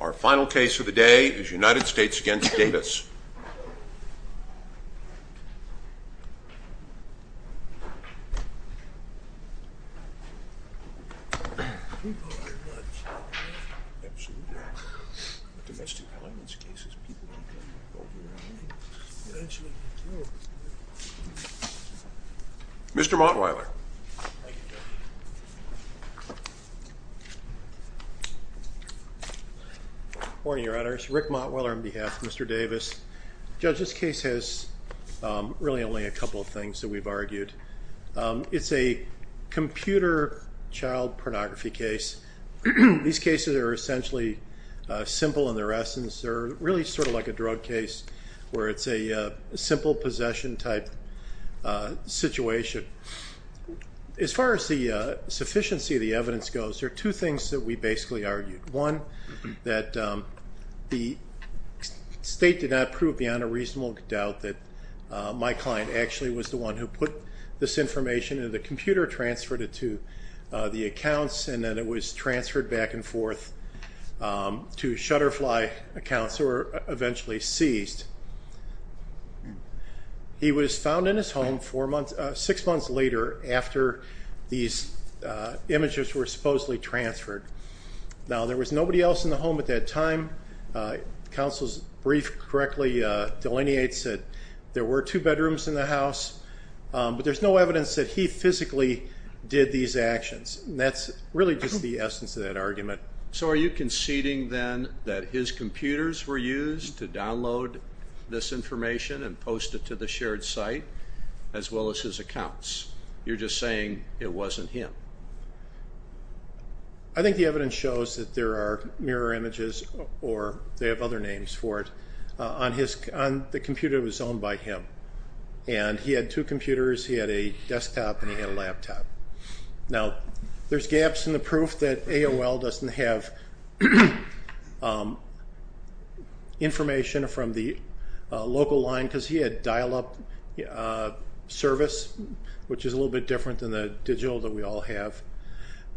Our final case of the day is United States v. Davis. Mr. Mottweiler. Morning, Your Honors. Rick Mottweiler on behalf of Mr. Davis. Judge, this case has really only a couple of things that we've argued. It's a computer child pornography case. These cases are essentially simple in their essence. They're really sort of like a drug case where it's a simple possession-type situation. As far as the sufficiency of the evidence goes, there are two things that we basically argued. One, that the state did not prove beyond a reasonable doubt that my client actually was the one who put this information into the computer, transferred it to the accounts, and then it was transferred back and forth to Shutterfly accounts, who were eventually seized. He was found in his home six months later after these images were supposedly transferred. Now, there was nobody else in the home at that time. Counsel's brief correctly delineates that there were two bedrooms in the house, but there's no evidence that he physically did these actions. That's really just the essence of that argument. So are you conceding then that his computers were used to download this information and post it to the shared site as well as his accounts? You're just saying it wasn't him. I think the evidence shows that there are mirror images, or they have other names for it, on the computer that was owned by him. And he had two computers, he had a desktop, and he had a laptop. Now, there's gaps in the proof that AOL doesn't have information from the local line, because he had dial-up service, which is a little bit different than the digital that we all have.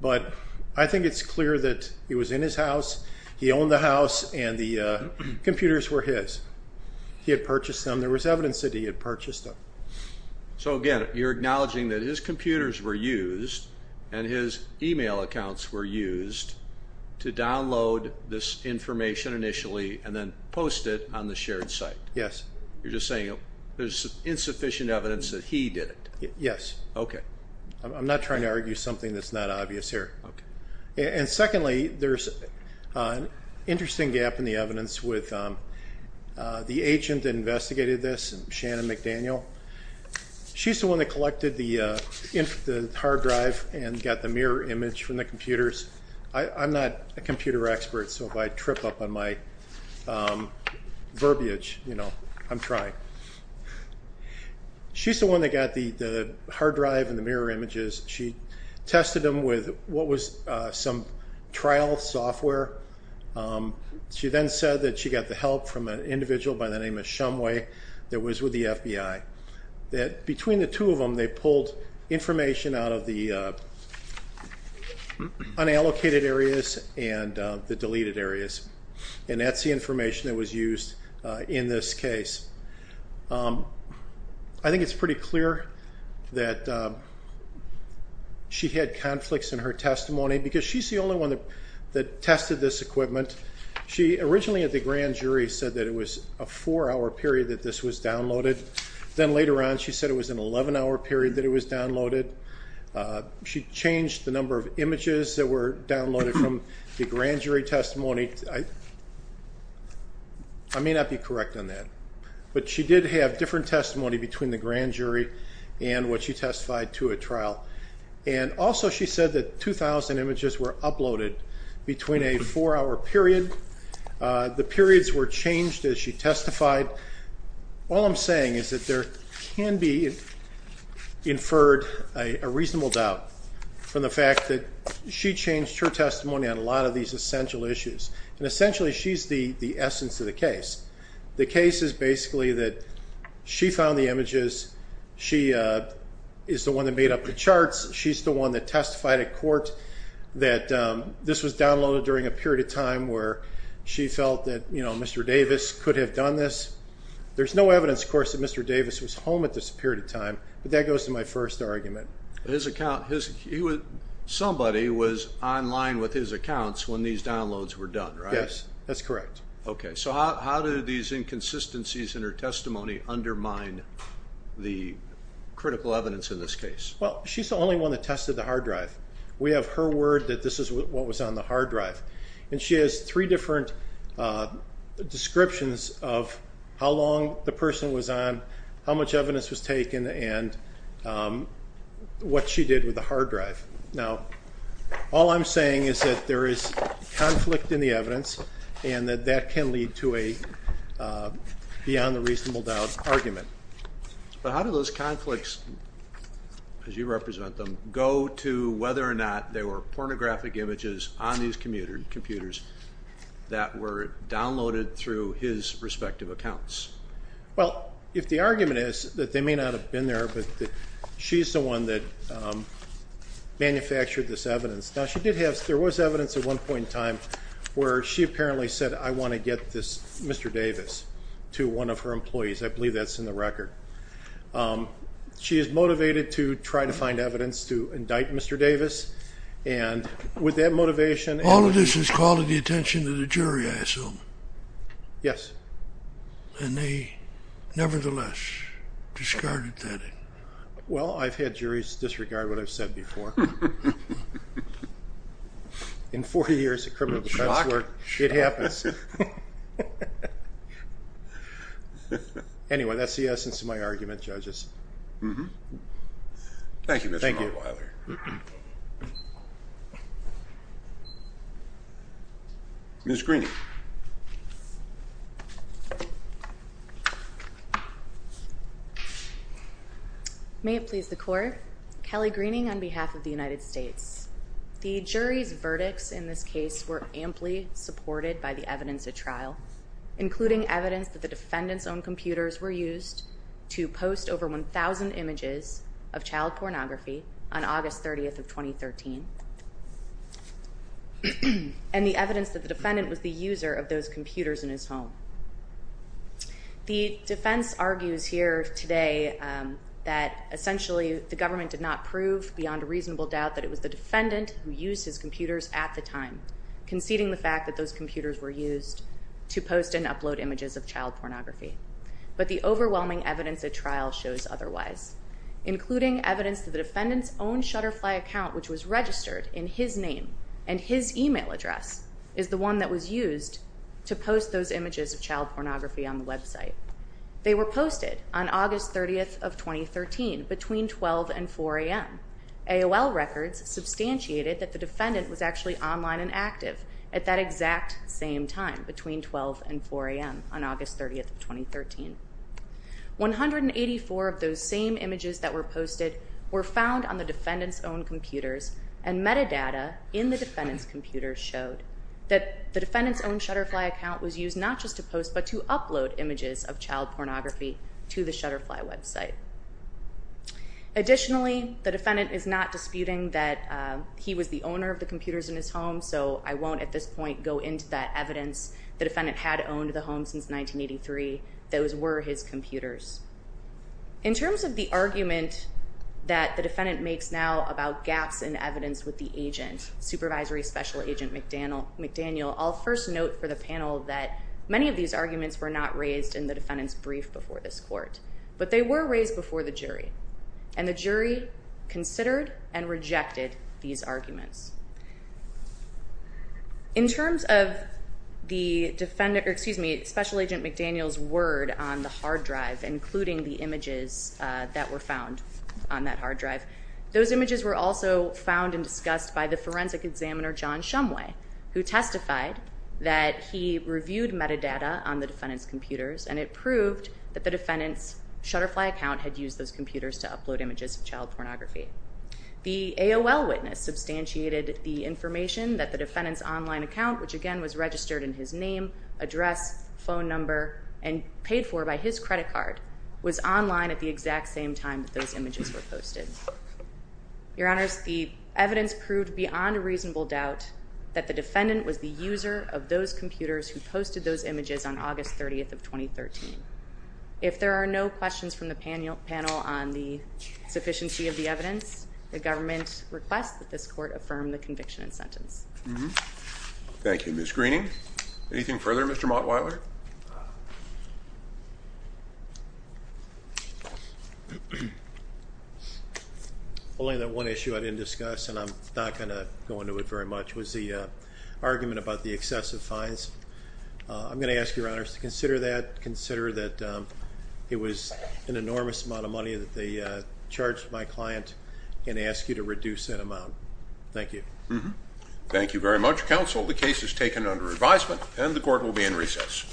But I think it's clear that he was in his house, he owned the house, and the computers were his. He had purchased them. There was evidence that he had purchased them. So, again, you're acknowledging that his computers were used and his email accounts were used to download this information initially and then post it on the shared site. Yes. You're just saying there's insufficient evidence that he did it. Yes. Okay. I'm not trying to argue something that's not obvious here. Okay. And secondly, there's an interesting gap in the evidence with the agent that investigated this, Shannon McDaniel. She's the one that collected the hard drive and got the mirror image from the computers. I'm not a computer expert, so if I trip up on my verbiage, you know, I'm trying. She's the one that got the hard drive and the mirror images. She tested them with what was some trial software. She then said that she got the help from an individual by the name of Shumway that was with the FBI. Between the two of them, they pulled information out of the unallocated areas and the deleted areas, and that's the information that was used in this case. I think it's pretty clear that she had conflicts in her testimony because she's the only one that tested this equipment. She originally at the grand jury said that it was a four-hour period that this was downloaded. Then later on, she said it was an 11-hour period that it was downloaded. She changed the number of images that were downloaded from the grand jury testimony. I may not be correct on that, but she did have different testimony between the grand jury and what she testified to at trial. Also, she said that 2,000 images were uploaded between a four-hour period. The periods were changed as she testified. All I'm saying is that there can be inferred a reasonable doubt from the fact that she changed her testimony on a lot of these essential issues. Essentially, she's the essence of the case. The case is basically that she found the images. She is the one that made up the charts. She's the one that testified at court that this was downloaded during a period of time where she felt that Mr. Davis could have done this. There's no evidence, of course, that Mr. Davis was home at this period of time, but that goes to my first argument. Somebody was online with his accounts when these downloads were done, right? Yes, that's correct. Okay, so how do these inconsistencies in her testimony undermine the critical evidence in this case? Well, she's the only one that tested the hard drive. We have her word that this is what was on the hard drive, and she has three different descriptions of how long the person was on, how much evidence was taken, and what she did with the hard drive. Now, all I'm saying is that there is conflict in the evidence and that that can lead to a beyond-the-reasonable-doubt argument. But how do those conflicts, as you represent them, go to whether or not there were pornographic images on these computers that were downloaded through his respective accounts? Well, if the argument is that they may not have been there, but that she's the one that manufactured this evidence. Now, there was evidence at one point in time where she apparently said, I want to get this Mr. Davis to one of her employees. I believe that's in the record. She is motivated to try to find evidence to indict Mr. Davis, and with that motivation and— All of this is calling the attention of the jury, I assume. Yes. And they nevertheless discarded that. Well, I've had juries disregard what I've said before. In 40 years of criminal defense work, it happens. Anyway, that's the essence of my argument, judges. Thank you, Mr. Mottweiler. Ms. Green. Thank you. May it please the Court. Kelly Greening on behalf of the United States. The jury's verdicts in this case were amply supported by the evidence at trial, including evidence that the defendant's own computers were used to post over 1,000 images of child pornography on August 30th of 2013, and the evidence that the defendant was the user of those computers in his home. The defense argues here today that essentially the government did not prove beyond a reasonable doubt that it was the defendant who used his computers at the time, conceding the fact that those computers were used to post and upload images of child pornography. But the overwhelming evidence at trial shows otherwise, including evidence that the defendant's own Shutterfly account, which was registered in his name and his email address, is the one that was used to post those images of child pornography on the website. They were posted on August 30th of 2013, between 12 and 4 a.m. AOL records substantiated that the defendant was actually online and active at that exact same time, between 12 and 4 a.m. on August 30th of 2013. 184 of those same images that were posted were found on the defendant's own computers, and metadata in the defendant's computer showed that the defendant's own Shutterfly account was used not just to post, but to upload images of child pornography to the Shutterfly website. Additionally, the defendant is not disputing that he was the owner of the computers in his home, so I won't at this point go into that evidence. The defendant had owned the home since 1983. Those were his computers. In terms of the argument that the defendant makes now about gaps in evidence with the agent, Supervisory Special Agent McDaniel, I'll first note for the panel that many of these arguments were not raised in the defendant's brief before this court. But they were raised before the jury, and the jury considered and rejected these arguments. In terms of Special Agent McDaniel's word on the hard drive, including the images that were found on that hard drive, those images were also found and discussed by the forensic examiner, John Shumway, who testified that he reviewed metadata on the defendant's computers, and it proved that the defendant's Shutterfly account had used those computers to upload images of child pornography. The AOL witness substantiated the information that the defendant's online account, which again was registered in his name, address, phone number, and paid for by his credit card, was online at the exact same time that those images were posted. Your Honors, the evidence proved beyond a reasonable doubt that the defendant was the user of those computers who posted those images on August 30th of 2013. If there are no questions from the panel on the sufficiency of the evidence, the government requests that this court affirm the conviction and sentence. Thank you, Ms. Greening. Anything further, Mr. Mottweiler? Only that one issue I didn't discuss, and I'm not going to go into it very much, was the argument about the excessive fines. I'm going to ask Your Honors to consider that, consider that it was an enormous amount of money that they charged my client, and ask you to reduce that amount. Thank you. Thank you very much, counsel. The case is taken under advisement, and the court will be in recess.